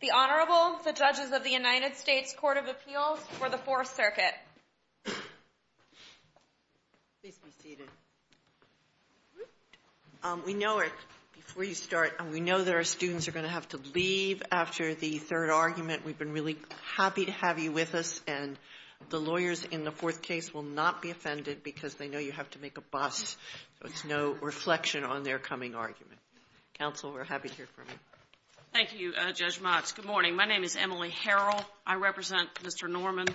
The Honorable, the Judges of the United States Court of Appeals for the Fourth Circuit. Please be seated. We know that our students are going to have to leave after the third argument. We've been really happy to have you with us, and the lawyers in the fourth case will not be offended because they know you have to make a bust, so it's no reflection on their coming argument. Counsel, we're happy to hear from you. Thank you, Judge Motz. Good morning. My name is Emily Harrell. I represent Mr. Norman.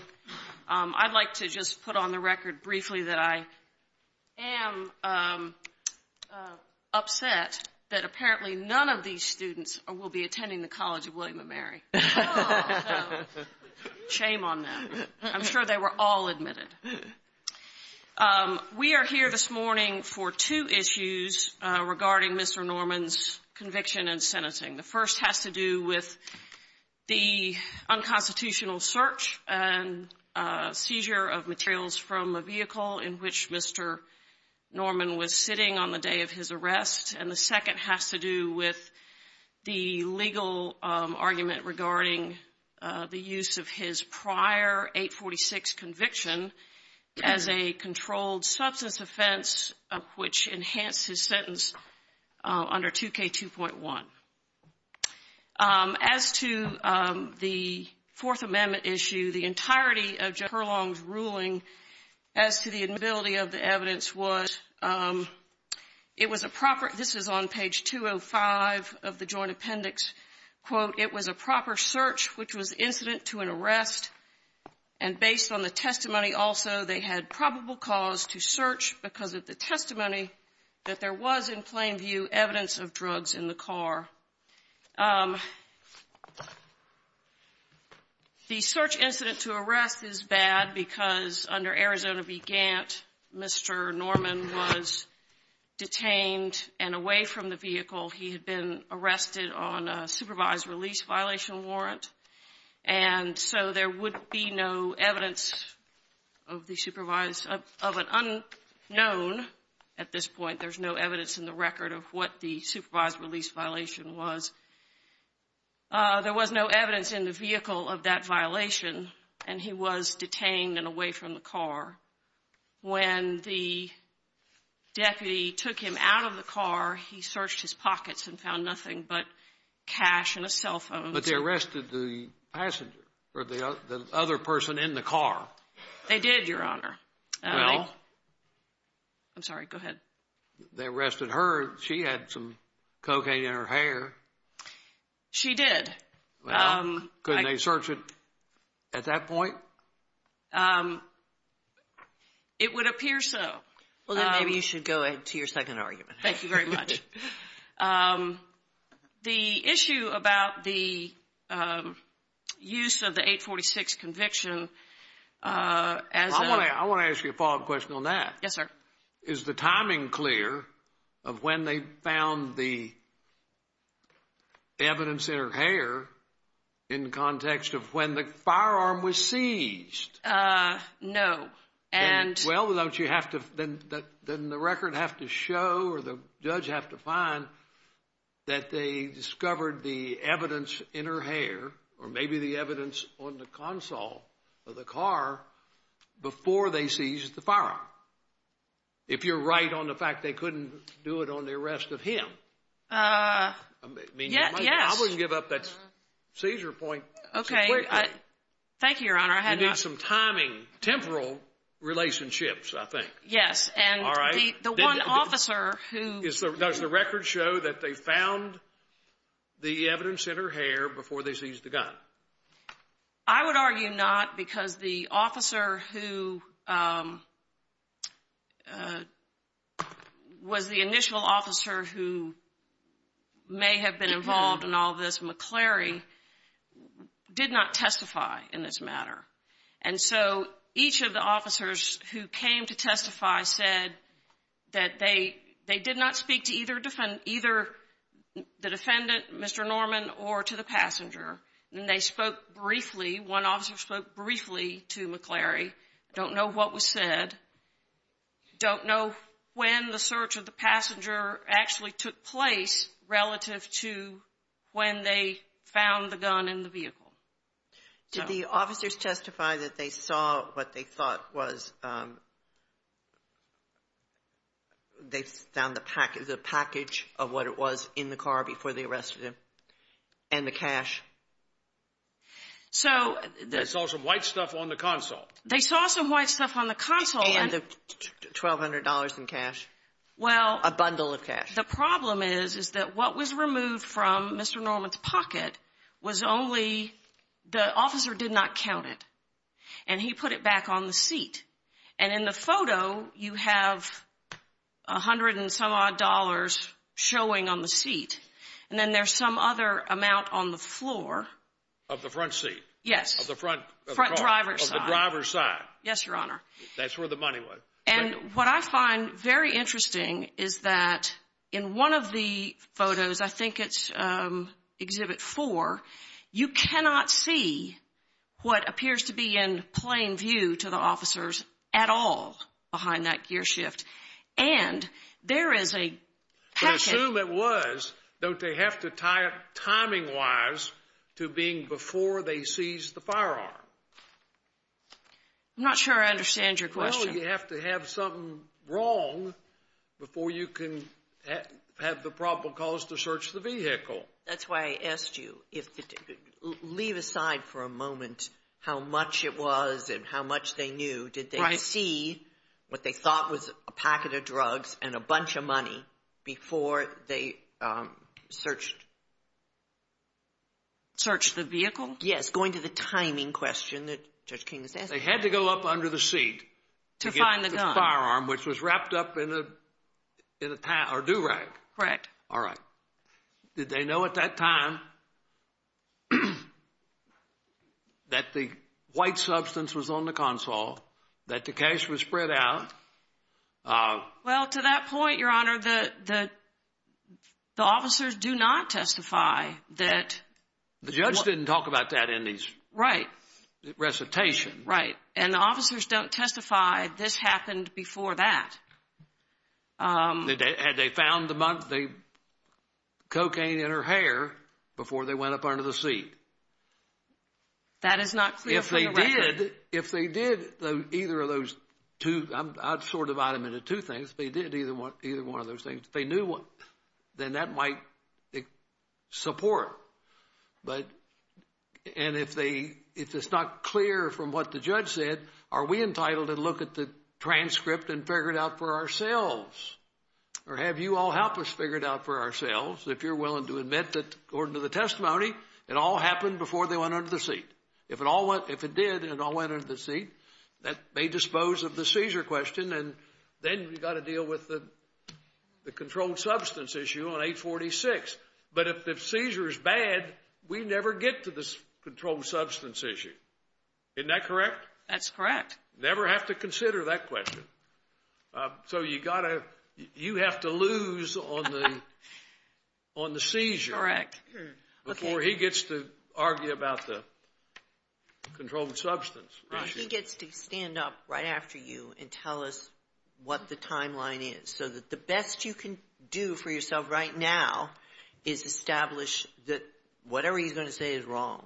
I'd like to just put on the record briefly that I am upset that apparently none of these students will be attending the College of William & Mary. Shame on them. I'm sure they were all admitted. We are here this morning for two issues regarding Mr. Norman's conviction and sentencing. The first has to do with the unconstitutional search and seizure of materials from a vehicle in which Mr. Norman was sitting on the day of his arrest, and the second has to do with the legal argument regarding the use of his prior 846 conviction as a controlled substance offense, which enhanced his sentence under 2K2.1. As to the Fourth Amendment issue, the entirety of Judge Hurlong's ruling as to the inability of the evidence was, it was a proper, this is on page 205 of the Joint Appendix, quote, it was a proper search which was incident to an arrest, and based on the testimony also, they had probable cause to search because of the testimony that there was, in plain view, evidence of drugs in the car. The search incident to arrest is bad because under Arizona v. Gant, Mr. Norman was detained and away from the vehicle. He had been arrested on a supervised release violation warrant, and so there would be no evidence of an unknown at this point. There's no evidence in the record of what the supervised release violation was. There was no evidence in the vehicle of that violation, and he was detained and away from the car. When the deputy took him out of the car, he searched his pockets and found nothing but cash and a cell phone. But they arrested the passenger or the other person in the car. They did, Your Honor. Well. I'm sorry, go ahead. They arrested her. She had some cocaine in her hair. She did. Couldn't they search it at that point? It would appear so. Well, then maybe you should go into your second argument. Thank you very much. The issue about the use of the 846 conviction as a I want to ask you a follow-up question on that. Yes, sir. Is the timing clear of when they found the evidence in her hair in context of when the firearm was seized? No. Well, then the record have to show or the judge have to find that they discovered the evidence in her hair or maybe the evidence on the console of the car before they seized the firearm. If you're right on the fact they couldn't do it on the arrest of him. Yes. I wouldn't give up that seizure point. Okay. Thank you, Your Honor. You need some timing, temporal relationships, I think. Yes, and the one officer who Does the record show that they found the evidence in her hair before they seized the gun? I would argue not because the officer who was the initial officer who may have been involved in all this, McCleary, did not testify in this matter. And so each of the officers who came to testify said that they did not speak to either the defendant, Mr. Norman, or to the passenger. And they spoke briefly, one officer spoke briefly to McCleary. Don't know what was said. Don't know when the search of the passenger actually took place relative to when they found the gun in the vehicle. Did the officers testify that they saw what they thought was they found the package of what it was in the car before they arrested him and the cash? They saw some white stuff on the console. They saw some white stuff on the console. And the $1,200 in cash, a bundle of cash. The problem is, is that what was removed from Mr. Norman's pocket was only, the officer did not count it. And he put it back on the seat. And in the photo, you have a hundred and some odd dollars showing on the seat. And then there's some other amount on the floor. Of the front seat? Yes. Of the front driver's side. Of the driver's side. Yes, Your Honor. That's where the money was. And what I find very interesting is that in one of the photos, I think it's Exhibit 4, you cannot see what appears to be in plain view to the officers at all behind that gear shift. And there is a package. But assume it was. Don't they have to tie it timing-wise to being before they seized the firearm? I'm not sure I understand your question. Well, you have to have something wrong before you can have the proper cause to search the vehicle. That's why I asked you, leave aside for a moment how much it was and how much they knew. Did they see what they thought was a packet of drugs and a bunch of money before they searched? Searched the vehicle? Yes, going to the timing question that Judge King is asking. They had to go up under the seat to get the firearm, which was wrapped up in a do-rag. Correct. All right. Did they know at that time that the white substance was on the console, that the cash was spread out? Well, to that point, Your Honor, the officers do not testify that. The judge didn't talk about that in his recitation. Right. And the officers don't testify this happened before that. Had they found the cocaine in her hair before they went up under the seat? That is not clear from the record. If they did either of those two, I'd sort of divide them into two things, if they did either one of those things, then that might support. And if it's not clear from what the judge said, are we entitled to look at the transcript and figure it out for ourselves? Or have you all helped us figure it out for ourselves if you're willing to admit that, according to the testimony, it all happened before they went under the seat? If it did and it all went under the seat, that may dispose of the seizure question. And then we've got to deal with the controlled substance issue on 846. But if the seizure is bad, we never get to this controlled substance issue. Isn't that correct? That's correct. Never have to consider that question. So you have to lose on the seizure before he gets to argue about the controlled substance. He gets to stand up right after you and tell us what the timeline is so that the best you can do for yourself right now is establish that whatever he's going to say is wrong,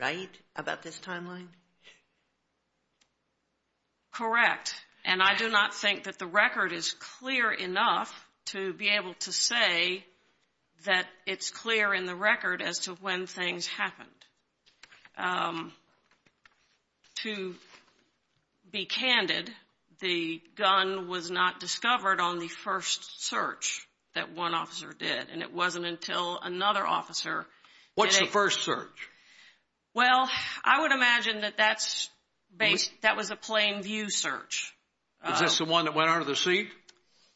right, about this timeline? Correct. And I do not think that the record is clear enough to be able to say that it's clear in the record as to when things happened. To be candid, the gun was not discovered on the first search that one officer did, and it wasn't until another officer. What's the first search? Well, I would imagine that that was a plain view search. Is this the one that went under the seat?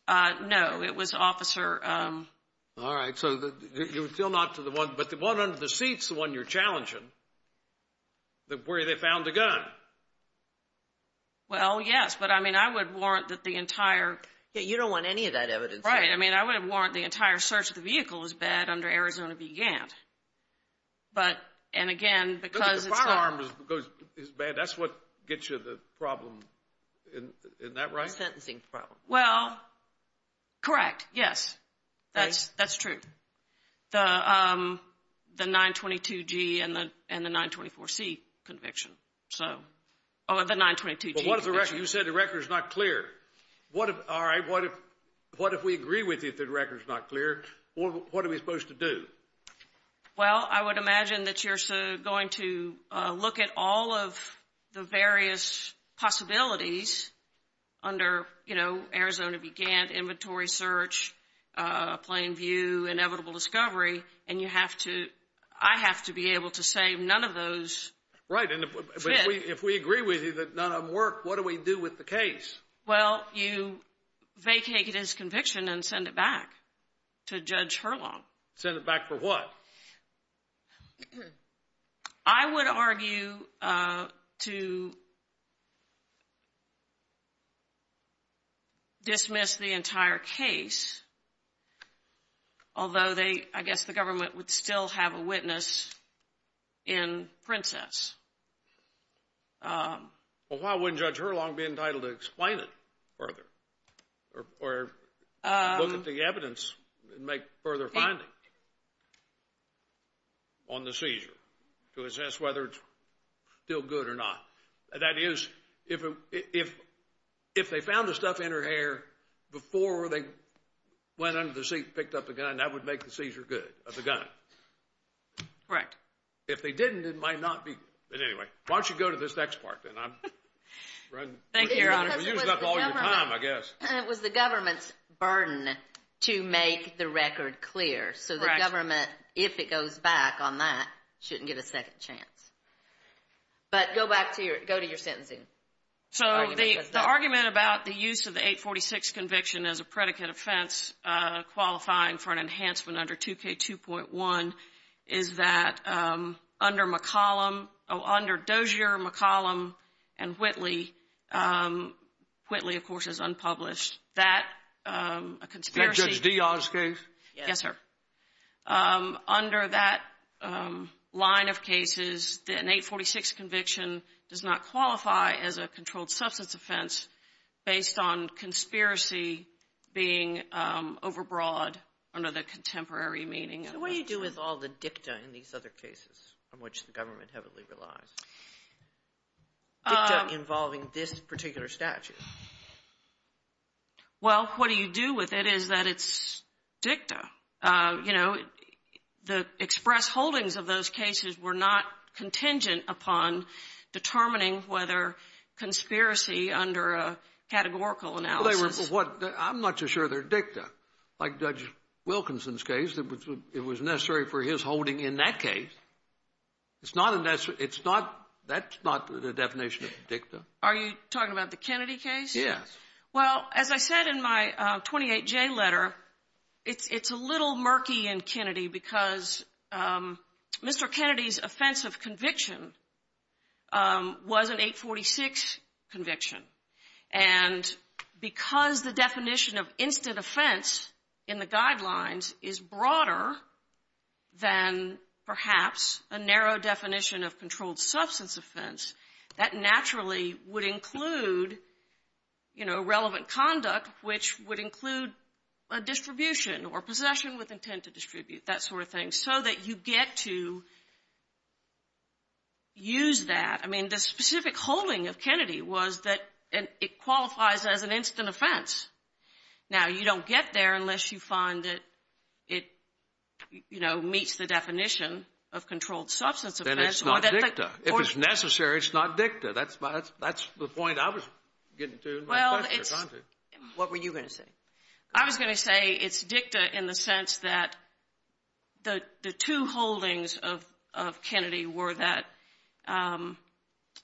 No, it was officer. All right, so you're still not to the one, but the one under the seat's the one you're challenging, where they found the gun. Well, yes, but I mean, I would warrant that the entire. Yeah, you don't want any of that evidence. Right, I mean, I would warrant the entire search of the vehicle was bad under Arizona v. Gantt. But, and again, because it's. Look, the firearm is bad. That's what gets you the problem. Isn't that right? The sentencing problem. Well, correct. Yes, that's that's true. The 922 G and the and the 924 C conviction. So, oh, the 922 G. What is the record? You said the record is not clear. What? All right. What if what if we agree with you? The record is not clear. What are we supposed to do? Well, I would imagine that you're going to look at all of the various possibilities under, you know, Arizona v. Gantt, inventory search, plain view, inevitable discovery. And you have to I have to be able to say none of those. Right. And if we agree with you that none of them work, what do we do with the case? Well, you vacate his conviction and send it back to Judge Hurlong. Send it back for what? I would argue to dismiss the entire case, although they I guess the government would still have a witness in Princess. Well, why wouldn't Judge Hurlong be entitled to explain it further or look at the evidence and make further findings on the seizure to assess whether it's still good or not? That is, if if if they found the stuff in her hair before they went under the seat and picked up the gun, that would make the seizure good of the gun. Correct. If they didn't, it might not be. But anyway, why don't you go to this next part? Thank you. I guess it was the government's burden to make the record clear. So the government, if it goes back on that, shouldn't get a second chance. But go back to your go to your sentencing. So the argument about the use of the 846 conviction as a predicate offense qualifying for an enhancement under 2K2.1 is that under McCollum under Dozier, McCollum and Whitley, Whitley, of course, is unpublished. That a conspiracy. Yes, sir. Under that line of cases, an 846 conviction does not qualify as a controlled substance offense based on conspiracy being overbroad under the contemporary meaning. What do you do with all the dicta in these other cases from which the government heavily relies? Involving this particular statute. Well, what do you do with it is that it's dicta. You know, the express holdings of those cases were not contingent upon determining whether conspiracy under a categorical analysis. I'm not sure they're dicta like Judge Wilkinson's case. It was necessary for his holding in that case. It's not. It's not. That's not the definition of dicta. Are you talking about the Kennedy case? Yes. Well, as I said in my 28 J letter, it's a little murky in Kennedy because Mr. Kennedy's offensive conviction was an 846 conviction. And because the definition of instant offense in the guidelines is broader than perhaps a narrow definition of controlled substance offense, that naturally would include, you know, relevant conduct, which would include a distribution or possession with intent to distribute, that sort of thing, so that you get to use that. I mean, the specific holding of Kennedy was that it qualifies as an instant offense. Now, you don't get there unless you find that it, you know, meets the definition of controlled substance offense. Then it's not dicta. If it's necessary, it's not dicta. That's the point I was getting to. What were you going to say? I was going to say it's dicta in the sense that the two holdings of Kennedy were that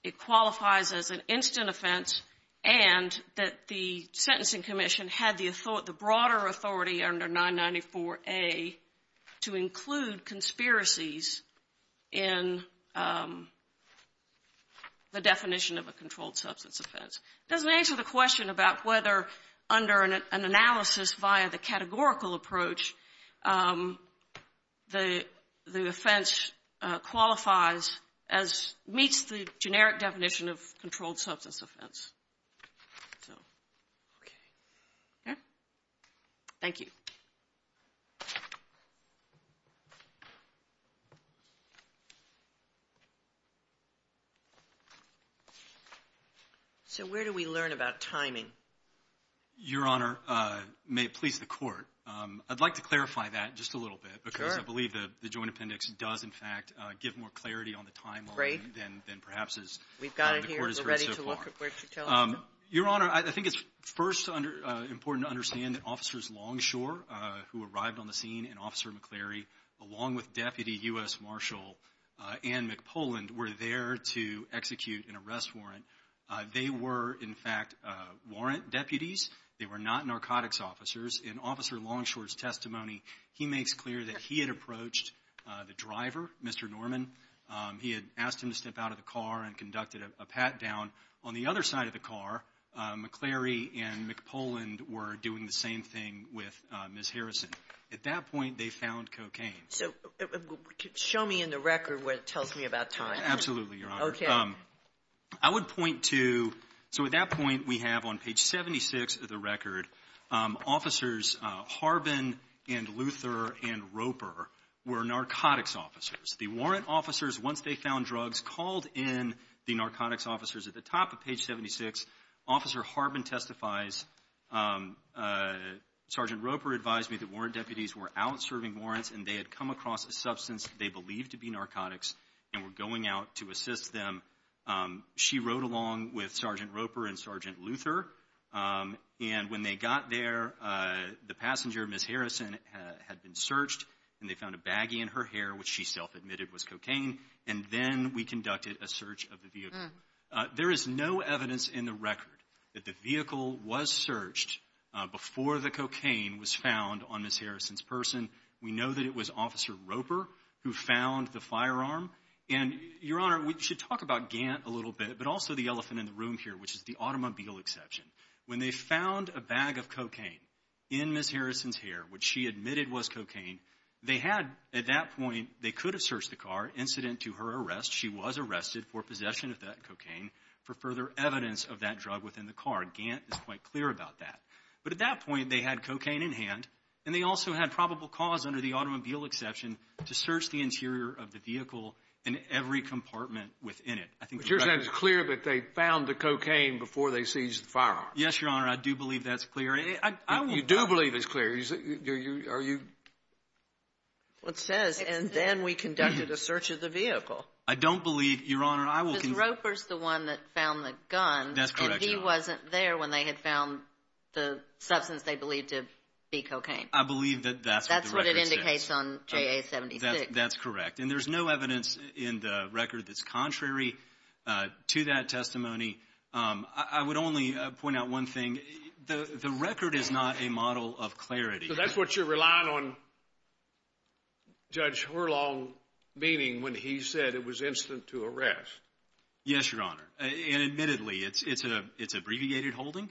it qualifies as an instant offense and that the sentencing commission had the broader authority under 994A to include conspiracies in the definition of a controlled substance offense. It doesn't answer the question about whether under an analysis via the categorical approach the offense qualifies as meets the generic definition of controlled substance offense. Thank you. Thank you. So where do we learn about timing? Your Honor, may it please the Court, I'd like to clarify that just a little bit. Sure. Because I believe the Joint Appendix does, in fact, give more clarity on the timeline than perhaps the Court has heard so far. We've got it here. We're ready to look at where to tell us. Your Honor, I think it's first important to understand that Officers Longshore, who arrived on the scene, and Officer McCleary, along with Deputy U.S. Marshall and McPoland, were there to execute an arrest warrant. They were, in fact, warrant deputies. They were not narcotics officers. In Officer Longshore's testimony, he makes clear that he had approached the driver, Mr. Norman. He had asked him to step out of the car and conducted a pat-down. On the other side of the car, McCleary and McPoland were doing the same thing with Ms. Harrison. At that point, they found cocaine. So show me in the record what it tells me about time. Absolutely, Your Honor. Okay. I would point to, so at that point, we have on page 76 of the record, Officers Harbin and Luther and Roper were narcotics officers. The warrant officers, once they found drugs, called in the narcotics officers. At the top of page 76, Officer Harbin testifies, Sergeant Roper advised me that warrant deputies were out serving warrants and they had come across a substance they believed to be narcotics and were going out to assist them. She rode along with Sergeant Roper and Sergeant Luther, and when they got there, the passenger, Ms. Harrison, had been searched, and they found a baggie in her hair, which she self-admitted was cocaine, and then we conducted a search of the vehicle. There is no evidence in the record that the vehicle was searched before the cocaine was found on Ms. Harrison's person. We know that it was Officer Roper who found the firearm. And, Your Honor, we should talk about Gant a little bit, but also the elephant in the room here, which is the automobile exception. When they found a bag of cocaine in Ms. Harrison's hair, which she admitted was cocaine, they had, at that point, they could have searched the car incident to her arrest. She was arrested for possession of that cocaine for further evidence of that drug within the car. Gant is quite clear about that. But, at that point, they had cocaine in hand, and they also had probable cause, under the automobile exception, to search the interior of the vehicle and every compartment within it. But, Your Honor, it's clear that they found the cocaine before they seized the firearm. Yes, Your Honor, I do believe that's clear. You do believe it's clear. Are you… It says, and then we conducted a search of the vehicle. I don't believe, Your Honor, I will… And Roper's the one that found the gun. That's correct, Your Honor. And he wasn't there when they had found the substance they believed to be cocaine. I believe that that's what the record says. That's what it indicates on JA-76. That's correct. And there's no evidence in the record that's contrary to that testimony. I would only point out one thing. The record is not a model of clarity. So that's what you're relying on Judge Horlong meaning when he said it was incident to arrest. Yes, Your Honor, and admittedly, it's abbreviated holding,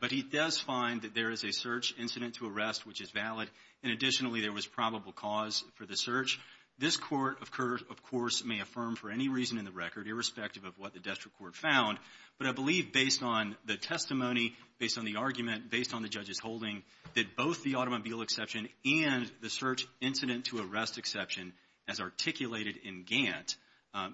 but he does find that there is a search incident to arrest, which is valid, and additionally, there was probable cause for the search. This court, of course, may affirm for any reason in the record, irrespective of what the district court found, but I believe based on the testimony, based on the argument, based on the judge's holding, that both the automobile exception and the search incident to arrest exception, as articulated in Gantt,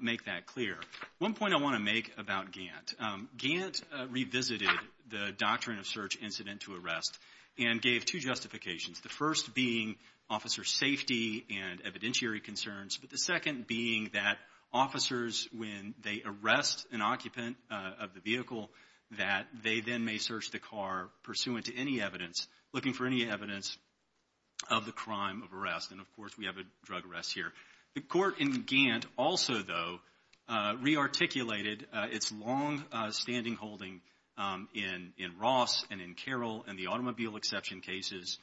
make that clear. One point I want to make about Gantt. Gantt revisited the doctrine of search incident to arrest and gave two justifications, the first being officer safety and evidentiary concerns, but the second being that officers, when they arrest an occupant of the vehicle, that they then may search the car pursuant to any evidence, looking for any evidence of the crime of arrest. And, of course, we have a drug arrest here. The court in Gantt also, though, rearticulated its longstanding holding in Ross and in Carroll and the automobile exception cases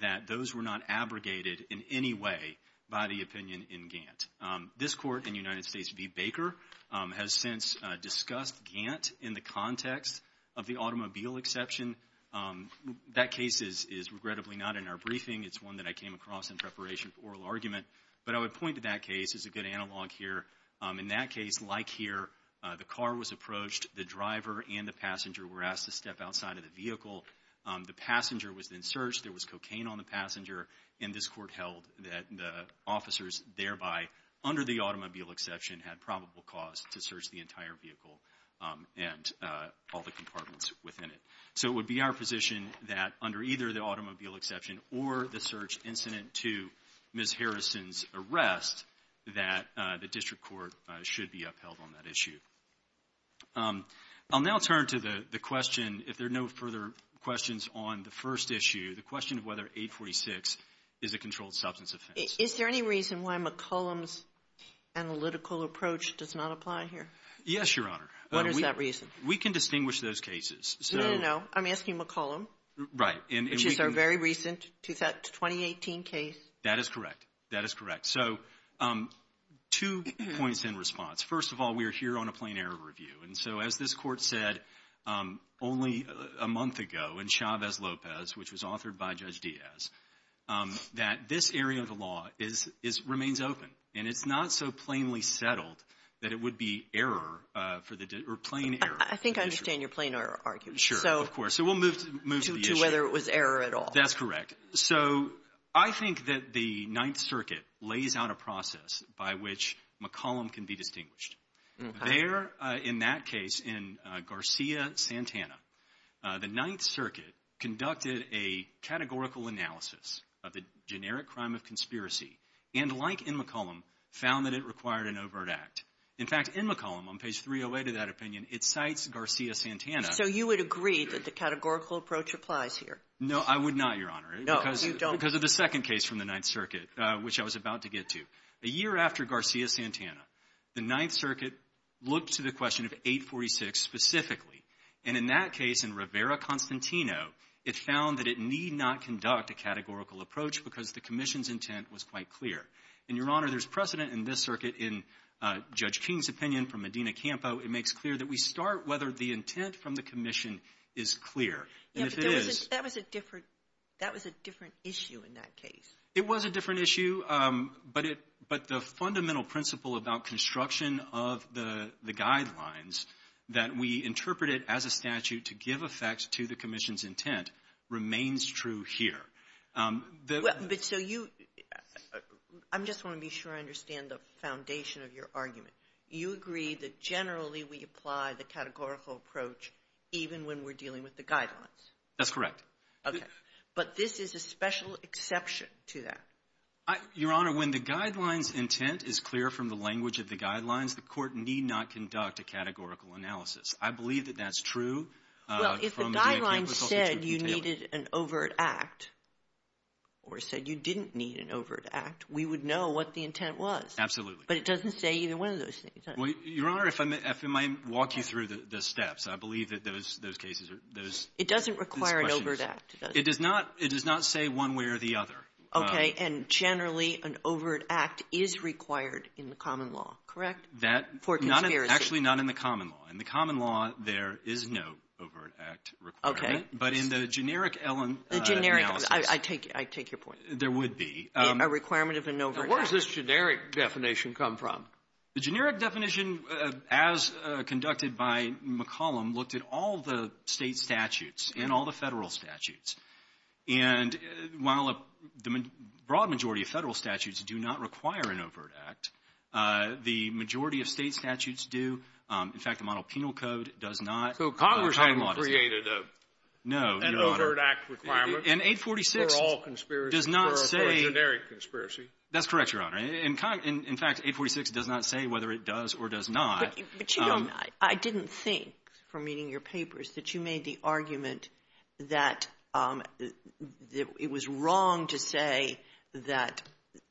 that those were not abrogated in any way by the opinion in Gantt. This court in United States v. Baker has since discussed Gantt in the context of the automobile exception. That case is, regrettably, not in our briefing. It's one that I came across in preparation for oral argument, but I would point to that case as a good analog here. In that case, like here, the car was approached, the driver and the passenger were asked to step outside of the vehicle. The passenger was then searched. There was cocaine on the passenger, and this court held that the officers thereby, under the automobile exception, had probable cause to search the entire vehicle and all the compartments within it. So it would be our position that under either the automobile exception or the search incident to Ms. Harrison's arrest, that the district court should be upheld on that issue. I'll now turn to the question, if there are no further questions on the first issue, the question of whether 846 is a controlled substance offense. Is there any reason why McCollum's analytical approach does not apply here? Yes, Your Honor. What is that reason? We can distinguish those cases. No, no, no. I'm asking McCollum. Right. Which is our very recent 2018 case. That is correct. That is correct. So two points in response. First of all, we are here on a plain-error review. And so, as this court said only a month ago in Chavez-Lopez, which was authored by Judge Diaz, that this area of the law remains open. And it's not so plainly settled that it would be error for the – or plain error. I think I understand your plain-error argument. Sure, of course. So we'll move to the issue. To whether it was error at all. That's correct. So I think that the Ninth Circuit lays out a process by which McCollum can be distinguished. Okay. There, in that case, in Garcia-Santana, the Ninth Circuit conducted a categorical analysis of the generic crime of conspiracy and, like in McCollum, found that it required an overt act. In fact, in McCollum, on page 308 of that opinion, it cites Garcia-Santana. So you would agree that the categorical approach applies here? No, I would not, Your Honor. No, you don't. Because of the second case from the Ninth Circuit, which I was about to get to. A year after Garcia-Santana, the Ninth Circuit looked to the question of 846 specifically. And in that case, in Rivera-Constantino, it found that it need not conduct a categorical approach because the commission's intent was quite clear. And, Your Honor, there's precedent in this circuit in Judge King's opinion from Medina-Campo. It makes clear that we start whether the intent from the commission is clear. And if it is – Yeah, but that was a different – that was a different issue in that case. It was a different issue, but the fundamental principle about construction of the guidelines that we interpreted as a statute to give effect to the commission's intent remains true here. But so you – I just want to be sure I understand the foundation of your argument. You agree that generally we apply the categorical approach even when we're dealing with the guidelines? That's correct. Okay. But this is a special exception to that? Your Honor, when the guidelines' intent is clear from the language of the guidelines, the court need not conduct a categorical analysis. I believe that that's true. Well, if the guidelines said you needed an overt act or said you didn't need an overt act, we would know what the intent was. Absolutely. But it doesn't say either one of those things, does it? Well, Your Honor, if I may walk you through the steps, I believe that those cases are – those questions – It doesn't require an overt act, does it? It does not – it does not say one way or the other. Okay. And generally an overt act is required in the common law, correct, for conspiracy? That – not in – actually, not in the common law. In the common law, there is no overt act requirement. Okay. But in the generic Ellen analysis – The generic – I take your point. There would be. A requirement of an overt act. Now, where does this generic definition come from? The generic definition, as conducted by McCollum, looked at all the State statutes and all the Federal statutes. And while the broad majority of Federal statutes do not require an overt act, the majority of State statutes do. In fact, the model penal code does not – So Congress hadn't created a – No, Your Honor. An overt act requirement for all conspiracies, for a generic conspiracy. That's correct, Your Honor. In fact, 846 does not say whether it does or does not. But you don't – I didn't think, from reading your papers, that you made the argument that it was wrong to say that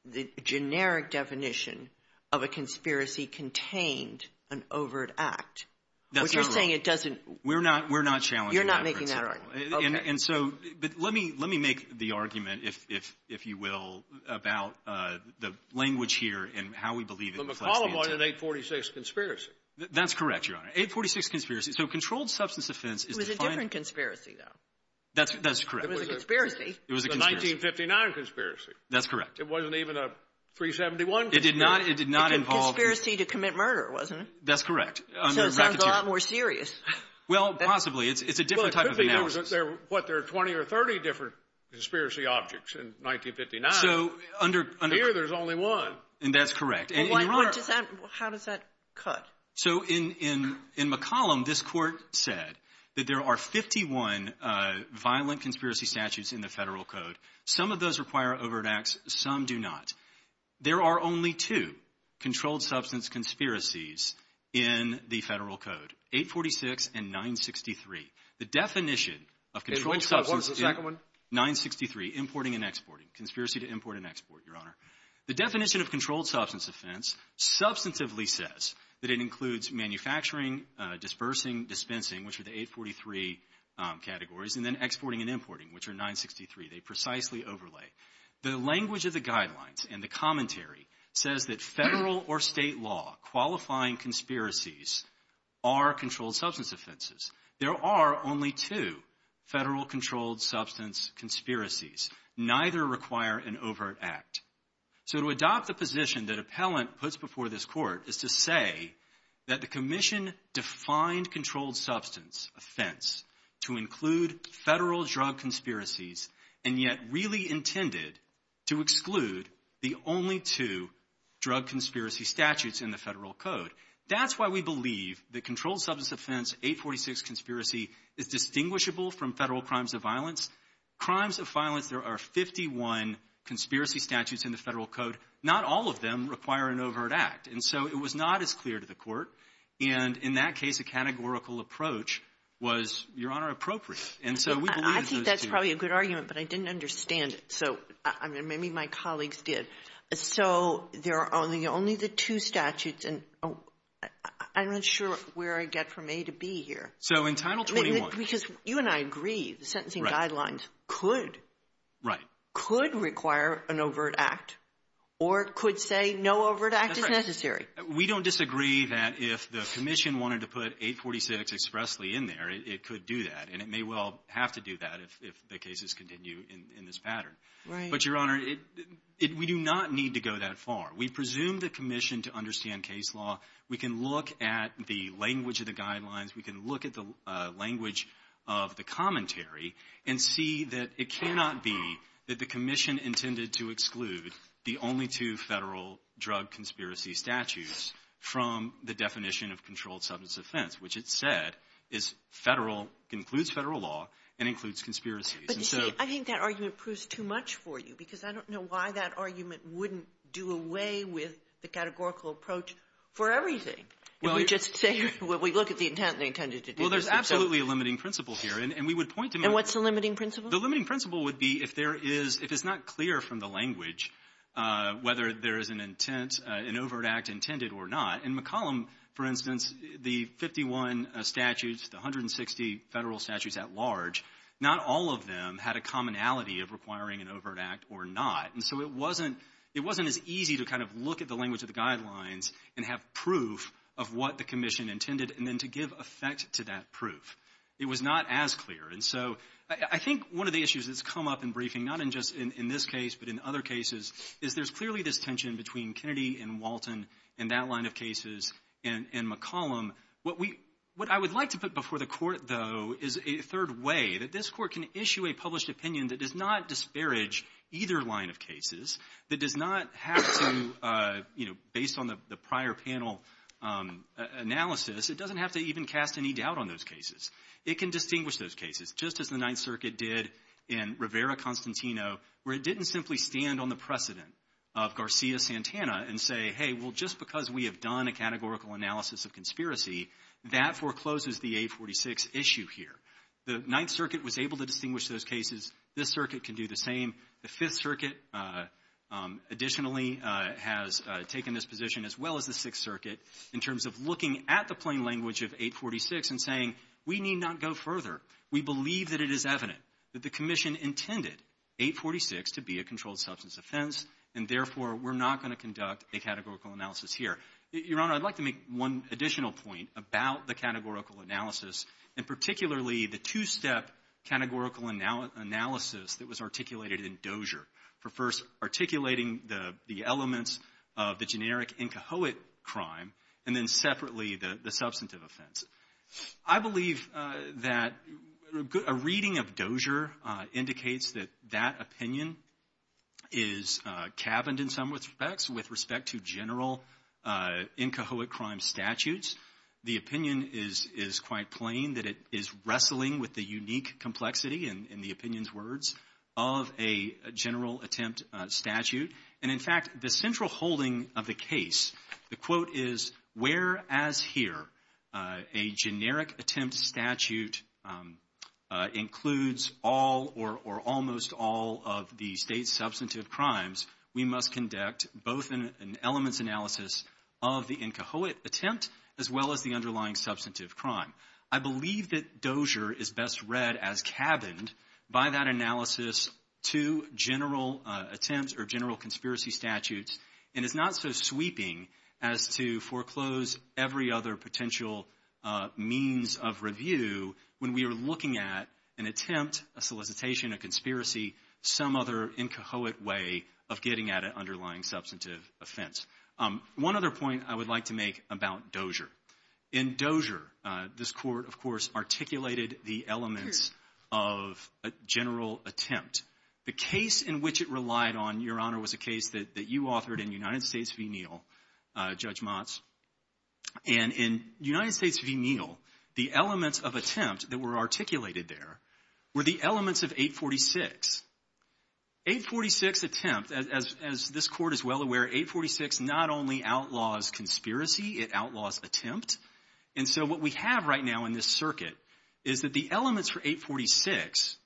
the generic definition of a conspiracy contained an overt act. That's not right. What you're saying, it doesn't – We're not challenging that principle. You're not making that argument. Okay. And so – but let me make the argument, if you will, about the language here and how we believe it reflects the answer. But McCollum wanted an 846 conspiracy. That's correct, Your Honor. 846 conspiracy. So controlled substance offense is defined – It was a different conspiracy, though. That's correct. It was a conspiracy. It was a conspiracy. It was a 1959 conspiracy. That's correct. It wasn't even a 371 conspiracy. It did not involve – It was a conspiracy to commit murder, wasn't it? That's correct. So it sounds a lot more serious. Well, possibly. It's a different type of analysis. Well, it could be that there were, what, there were 20 or 30 different conspiracy objects in 1959. So under – Here there's only one. And that's correct. How does that cut? So in McCollum, this Court said that there are 51 violent conspiracy statutes in the Federal Code. Some of those require overt acts. Some do not. There are only two controlled substance conspiracies in the Federal Code, 846 and 963. The definition of controlled substance – What was the second one? 963, importing and exporting. Conspiracy to import and export, Your Honor. The definition of controlled substance offense substantively says that it includes manufacturing, dispersing, dispensing, which are the 843 categories, and then exporting and importing, which are 963. They precisely overlay. The language of the guidelines and the commentary says that Federal or State law qualifying conspiracies are controlled substance offenses. There are only two Federal controlled substance conspiracies. Neither require an overt act. So to adopt the position that Appellant puts before this Court is to say that the Commission defined controlled substance offense to include Federal drug conspiracies and yet really intended to exclude the only two drug conspiracy statutes in the Federal Code. That's why we believe that controlled substance offense 846 conspiracy is distinguishable from Federal crimes of violence. Crimes of violence, there are 51 conspiracy statutes in the Federal Code. Not all of them require an overt act. And so it was not as clear to the Court. And in that case, a categorical approach was, Your Honor, appropriate. And so we believe those two. I think that's probably a good argument, but I didn't understand it. So maybe my colleagues did. So there are only the two statutes, and I'm not sure where I get from A to B here. So in Title 21. Because you and I agree the sentencing guidelines could. Right. Could require an overt act or could say no overt act is necessary. We don't disagree that if the Commission wanted to put 846 expressly in there, it could do that. And it may well have to do that if the cases continue in this pattern. Right. But, Your Honor, we do not need to go that far. We presume the Commission to understand case law. We can look at the language of the guidelines. We can look at the language of the commentary and see that it cannot be that the Commission intended to exclude the only two Federal drug conspiracy statutes from the definition of controlled substance offense, which it said is Federal, includes Federal law, and includes conspiracies. But, you see, I think that argument proves too much for you because I don't know why that argument wouldn't do away with the categorical approach for everything. We look at the intent they intended to do. Well, there's absolutely a limiting principle here. And we would point to that. And what's the limiting principle? The limiting principle would be if it's not clear from the language whether there is an overt act intended or not. In McCollum, for instance, the 51 statutes, the 160 Federal statutes at large, not all of them had a commonality of requiring an overt act or not. And so it wasn't as easy to kind of look at the language of the guidelines and have proof of what the Commission intended and then to give effect to that proof. It was not as clear. And so I think one of the issues that's come up in briefing, not just in this case but in other cases, is there's clearly this tension between Kennedy and Walton in that line of cases and McCollum. What I would like to put before the Court, though, is a third way that this Court can issue a published opinion that does not disparage either line of cases, that does not have to, you know, based on the prior panel analysis, it doesn't have to even cast any doubt on those cases. It can distinguish those cases, just as the Ninth Circuit did in Rivera-Constantino, where it didn't simply stand on the precedent of Garcia-Santana and say, hey, well, just because we have done a categorical analysis of conspiracy, that forecloses the 846 issue here. The Ninth Circuit was able to distinguish those cases. This circuit can do the same. The Fifth Circuit, additionally, has taken this position as well as the Sixth Circuit in terms of looking at the plain language of 846 and saying, we need not go further. We believe that it is evident that the Commission intended 846 to be a controlled substance offense, and therefore, we're not going to conduct a categorical analysis here. Your Honor, I'd like to make one additional point about the categorical analysis and particularly the two-step categorical analysis that was articulated in Dozier for first articulating the elements of the generic Incahoate crime and then separately the substantive offense. I believe that a reading of Dozier indicates that that opinion is cabined in some respects with respect to general Incahoate crime statutes. The opinion is quite plain that it is wrestling with the unique complexity, in the opinion's words, of a general attempt statute. And, in fact, the central holding of the case, the quote is, whereas here a generic attempt statute includes all or almost all of the State's substantive crimes, we must conduct both an elements analysis of the Incahoate attempt as well as the underlying substantive crime. I believe that Dozier is best read as cabined by that analysis to general attempts or general conspiracy statutes, and is not so sweeping as to foreclose every other potential means of review when we are looking at an attempt, a solicitation, a conspiracy, some other Incahoate way of getting at an underlying substantive offense. One other point I would like to make about Dozier. In Dozier, this Court, of course, articulated the elements of a general attempt. The case in which it relied on, Your Honor, was a case that you authored in United States v. Neal, Judge Motz. And in United States v. Neal, the elements of attempt that were articulated there were the elements of 846. 846 attempt, as this Court is well aware, 846 not only outlaws conspiracy, it outlaws attempt. And so what we have right now in this circuit is that the elements for 846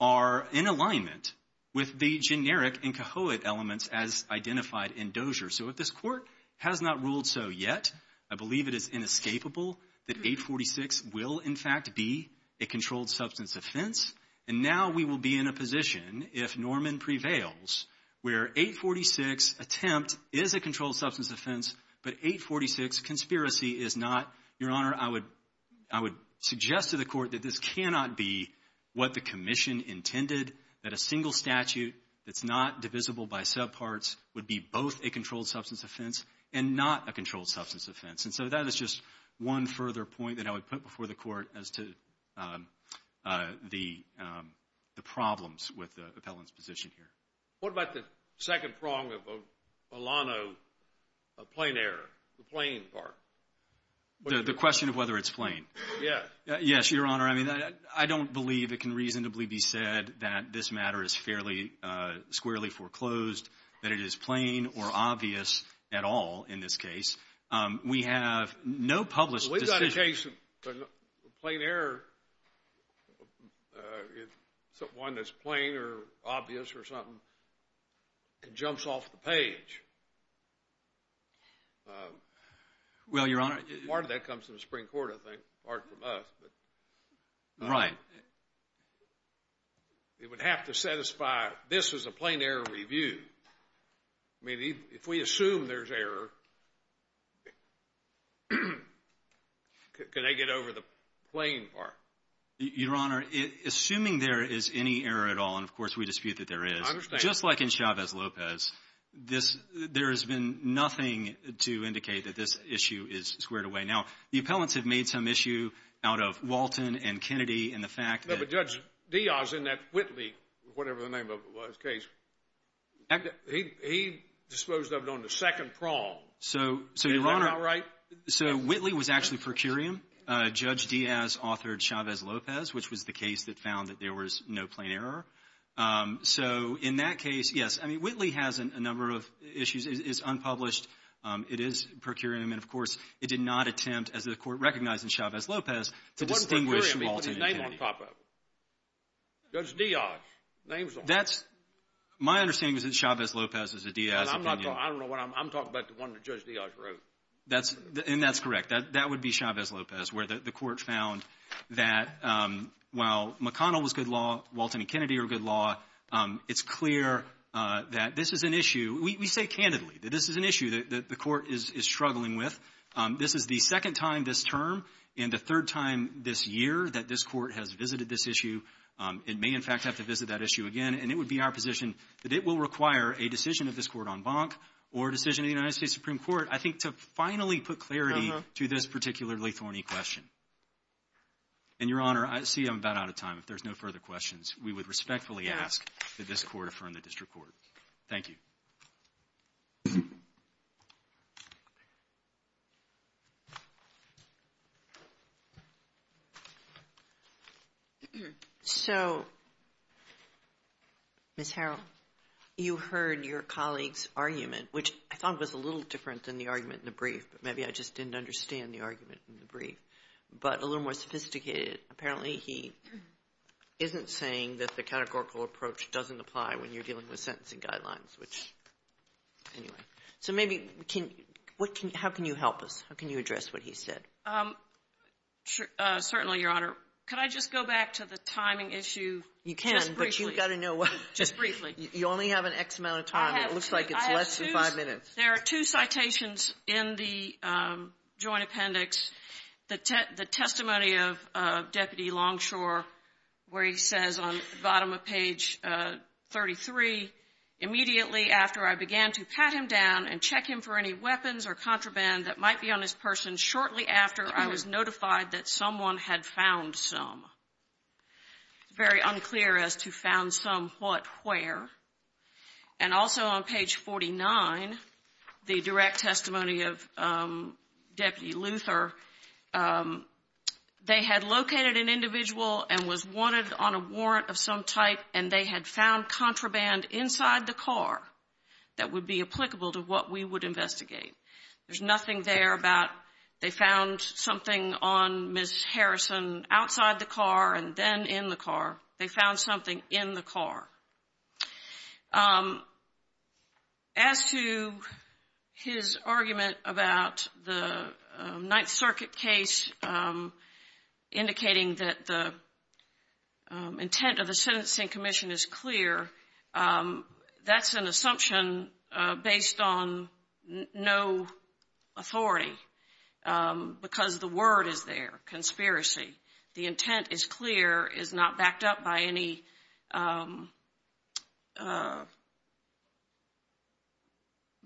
are in alignment with the generic Incahoate elements as identified in Dozier. So if this Court has not ruled so yet, I believe it is inescapable that 846 will, in fact, be a controlled substance offense. And now we will be in a position, if Norman prevails, where 846 attempt is a controlled substance offense, but 846 conspiracy is not. Your Honor, I would suggest to the Court that this cannot be what the Commission intended, that a single statute that's not divisible by subparts would be both a controlled substance offense and not a controlled substance offense. And so that is just one further point that I would put before the Court as to the problems with the appellant's position here. What about the second prong of Olano plain error, the plain part? The question of whether it's plain. Yes. Yes, Your Honor. I mean, I don't believe it can reasonably be said that this matter is fairly squarely foreclosed, that it is plain or obvious at all in this case. We have no published decision. We've got a case of plain error, one that's plain or obvious or something that jumps off the page. Well, Your Honor. Part of that comes from the Supreme Court, I think, part from us. Right. It would have to satisfy this is a plain error review. I mean, if we assume there's error, can they get over the plain part? Your Honor, assuming there is any error at all, and, of course, we dispute that there is. I understand. Just like in Chavez-Lopez, there has been nothing to indicate that this issue is squared away. Now, the appellants have made some issue out of Walton and Kennedy and the fact that — No, but Judge Diaz in that Whitley, whatever the name of his case, he disposed of it on the second prong. So, Your Honor — Is that not right? So, Whitley was actually per curiam. Judge Diaz authored Chavez-Lopez, which was the case that found that there was no plain error. So in that case, yes, I mean, Whitley has a number of issues. It's unpublished. It is per curiam. And, of course, it did not attempt, as the Court recognized in Chavez-Lopez, to distinguish Walton and Kennedy. Judge Diaz. Name's on it. That's — my understanding is that Chavez-Lopez is a Diaz opinion. I'm not — I don't know what I'm — I'm talking about the one that Judge Diaz wrote. That's — and that's correct. That would be Chavez-Lopez, where the Court found that while McConnell was good law, Walton and Kennedy are good law, it's clear that this is an issue — we say candidly that this is an issue that the Court is struggling with. This is the second time this term and the third time this year that this Court has visited this issue. It may, in fact, have to visit that issue again. And it would be our position that it will require a decision of this Court en banc or a decision of the United States Supreme Court, I think, to finally put clarity to this particularly thorny question. And, Your Honor, I see I'm about out of time. If there's no further questions, we would respectfully ask that this Court affirm the district court. Thank you. So, Ms. Harrell, you heard your colleague's argument, which I thought was a little different than the argument in the brief, but maybe I just didn't understand the argument in the brief, but a little more sophisticated. Apparently, he isn't saying that the categorical approach doesn't apply when you're dealing with sentencing guidelines, which — anyway. So maybe — how can you help us? How can you address what he said? Certainly, Your Honor. Could I just go back to the timing issue just briefly? You can, but you've got to know — Just briefly. You only have an X amount of time. It looks like it's less than five minutes. There are two citations in the Joint Appendix, the testimony of Deputy Longshore, where he says on the bottom of page 33, It's very unclear as to found some what where. And also on page 49, the direct testimony of Deputy Luther, they had located an individual and was wanted on a warrant of some type, and they had found contraband inside the car that would be applicable to what we would investigate. There's nothing there about they found something on Ms. Harrison outside the car and then in the car. They found something in the car. As to his argument about the Ninth Circuit case indicating that the intent of the sentencing commission is clear, that's an assumption based on no authority because the word is there, conspiracy. The intent is clear, is not backed up by any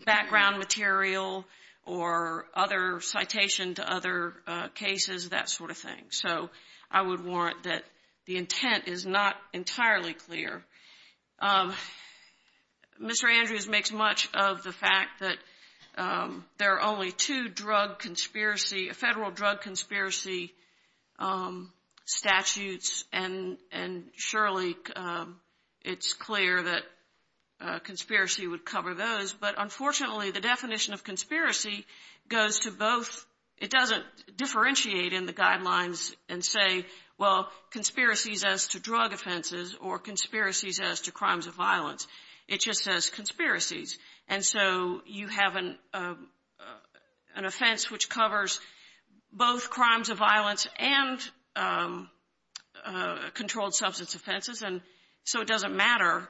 background material or other citation to other cases, that sort of thing. So I would warrant that the intent is not entirely clear. Mr. Andrews makes much of the fact that there are only two drug conspiracy, federal drug conspiracy statutes, and surely it's clear that conspiracy would cover those. But unfortunately, the definition of conspiracy goes to both. It doesn't differentiate in the guidelines and say, well, conspiracies as to drug offenses or conspiracies as to crimes of violence. It just says conspiracies. And so you have an offense which covers both crimes of violence and controlled substance offenses. And so it doesn't matter.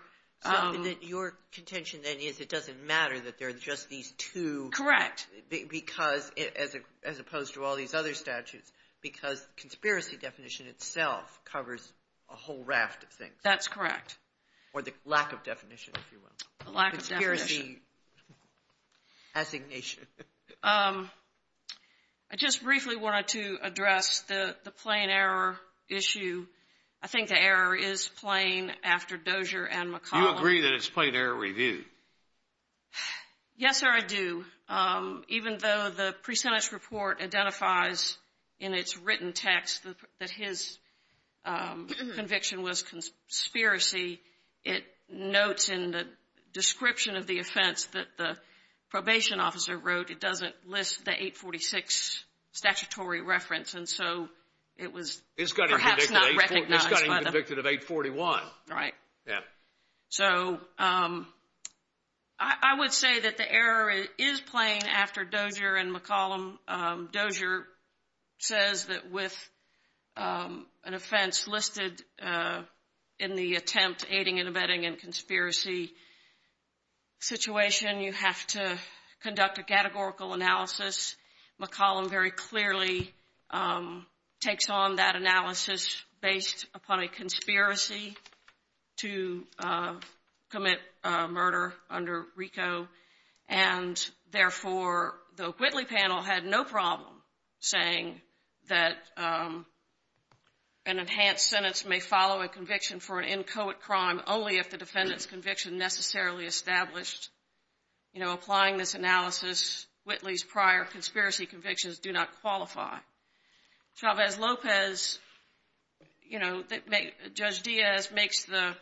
Your contention, then, is it doesn't matter that there are just these two. Correct. Because, as opposed to all these other statutes, because conspiracy definition itself covers a whole raft of things. That's correct. Or the lack of definition, if you will. The lack of definition. Conspiracy assignation. I just briefly wanted to address the plain error issue. I think the error is plain after Dozier and McCollum. You agree that it's plain error review? Yes, sir, I do. Even though the pre-sentence report identifies in its written text that his conviction was conspiracy, it notes in the description of the offense that the probation officer wrote it doesn't list the 846 statutory reference. And so it was perhaps not recognized. It's got to be convicted of 841. Right. Yeah. So I would say that the error is plain after Dozier and McCollum. Dozier says that with an offense listed in the attempt aiding and abetting in conspiracy situation, you have to conduct a categorical analysis. McCollum very clearly takes on that analysis based upon a conspiracy to commit murder under RICO, and therefore the Whitley panel had no problem saying that an enhanced sentence may follow a conviction for an inchoate crime only if the defendant's conviction necessarily established. You know, applying this analysis, Whitley's prior conspiracy convictions do not qualify. Chavez-Lopez, you know, Judge Diaz makes the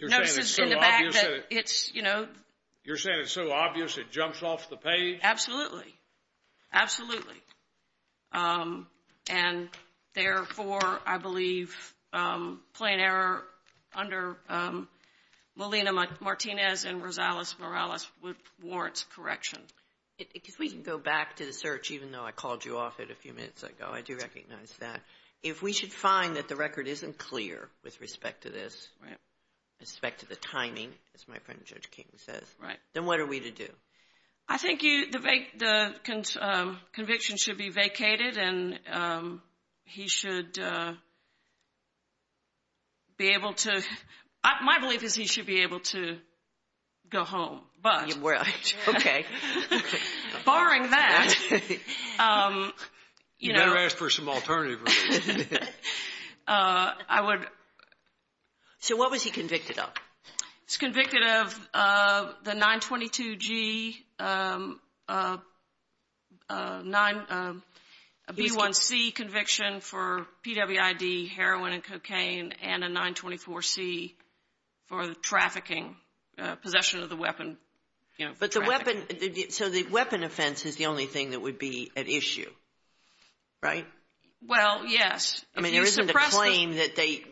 notices in the back that it's, you know. You're saying it's so obvious it jumps off the page? Absolutely. Absolutely. And, therefore, I believe plain error under Molina-Martinez and Rosales-Morales would warrant correction. If we can go back to the search, even though I called you off it a few minutes ago, I do recognize that. If we should find that the record isn't clear with respect to this, with respect to the timing, as my friend Judge King says, then what are we to do? I think the conviction should be vacated, and he should be able to. My belief is he should be able to go home. Okay. Barring that. You better ask for some alternative. I would. So what was he convicted of? He was convicted of the 922G, a B1C conviction for PWID, heroin and cocaine, and a 924C for the trafficking, possession of the weapon, you know, for trafficking. So the weapon offense is the only thing that would be at issue, right? Well, yes. I mean, there isn't a claim that they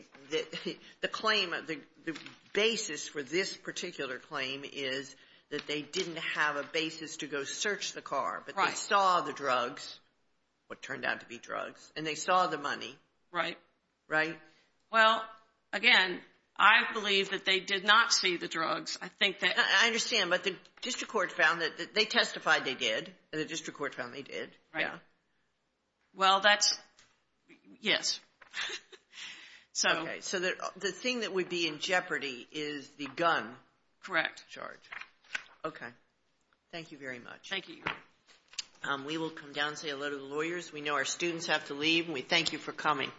– the claim – the basis for this particular claim is that they didn't have a basis to go search the car. Right. But they saw the drugs, what turned out to be drugs, and they saw the money. Right. Right? Well, again, I believe that they did not see the drugs. I think that – I understand. But the district court found that – they testified they did. The district court found they did. Right. Yeah. Well, that's – yes. Okay. So the thing that would be in jeopardy is the gun charge. Correct. Okay. Thank you very much. Thank you. We will come down and say hello to the lawyers. We know our students have to leave, and we thank you for coming.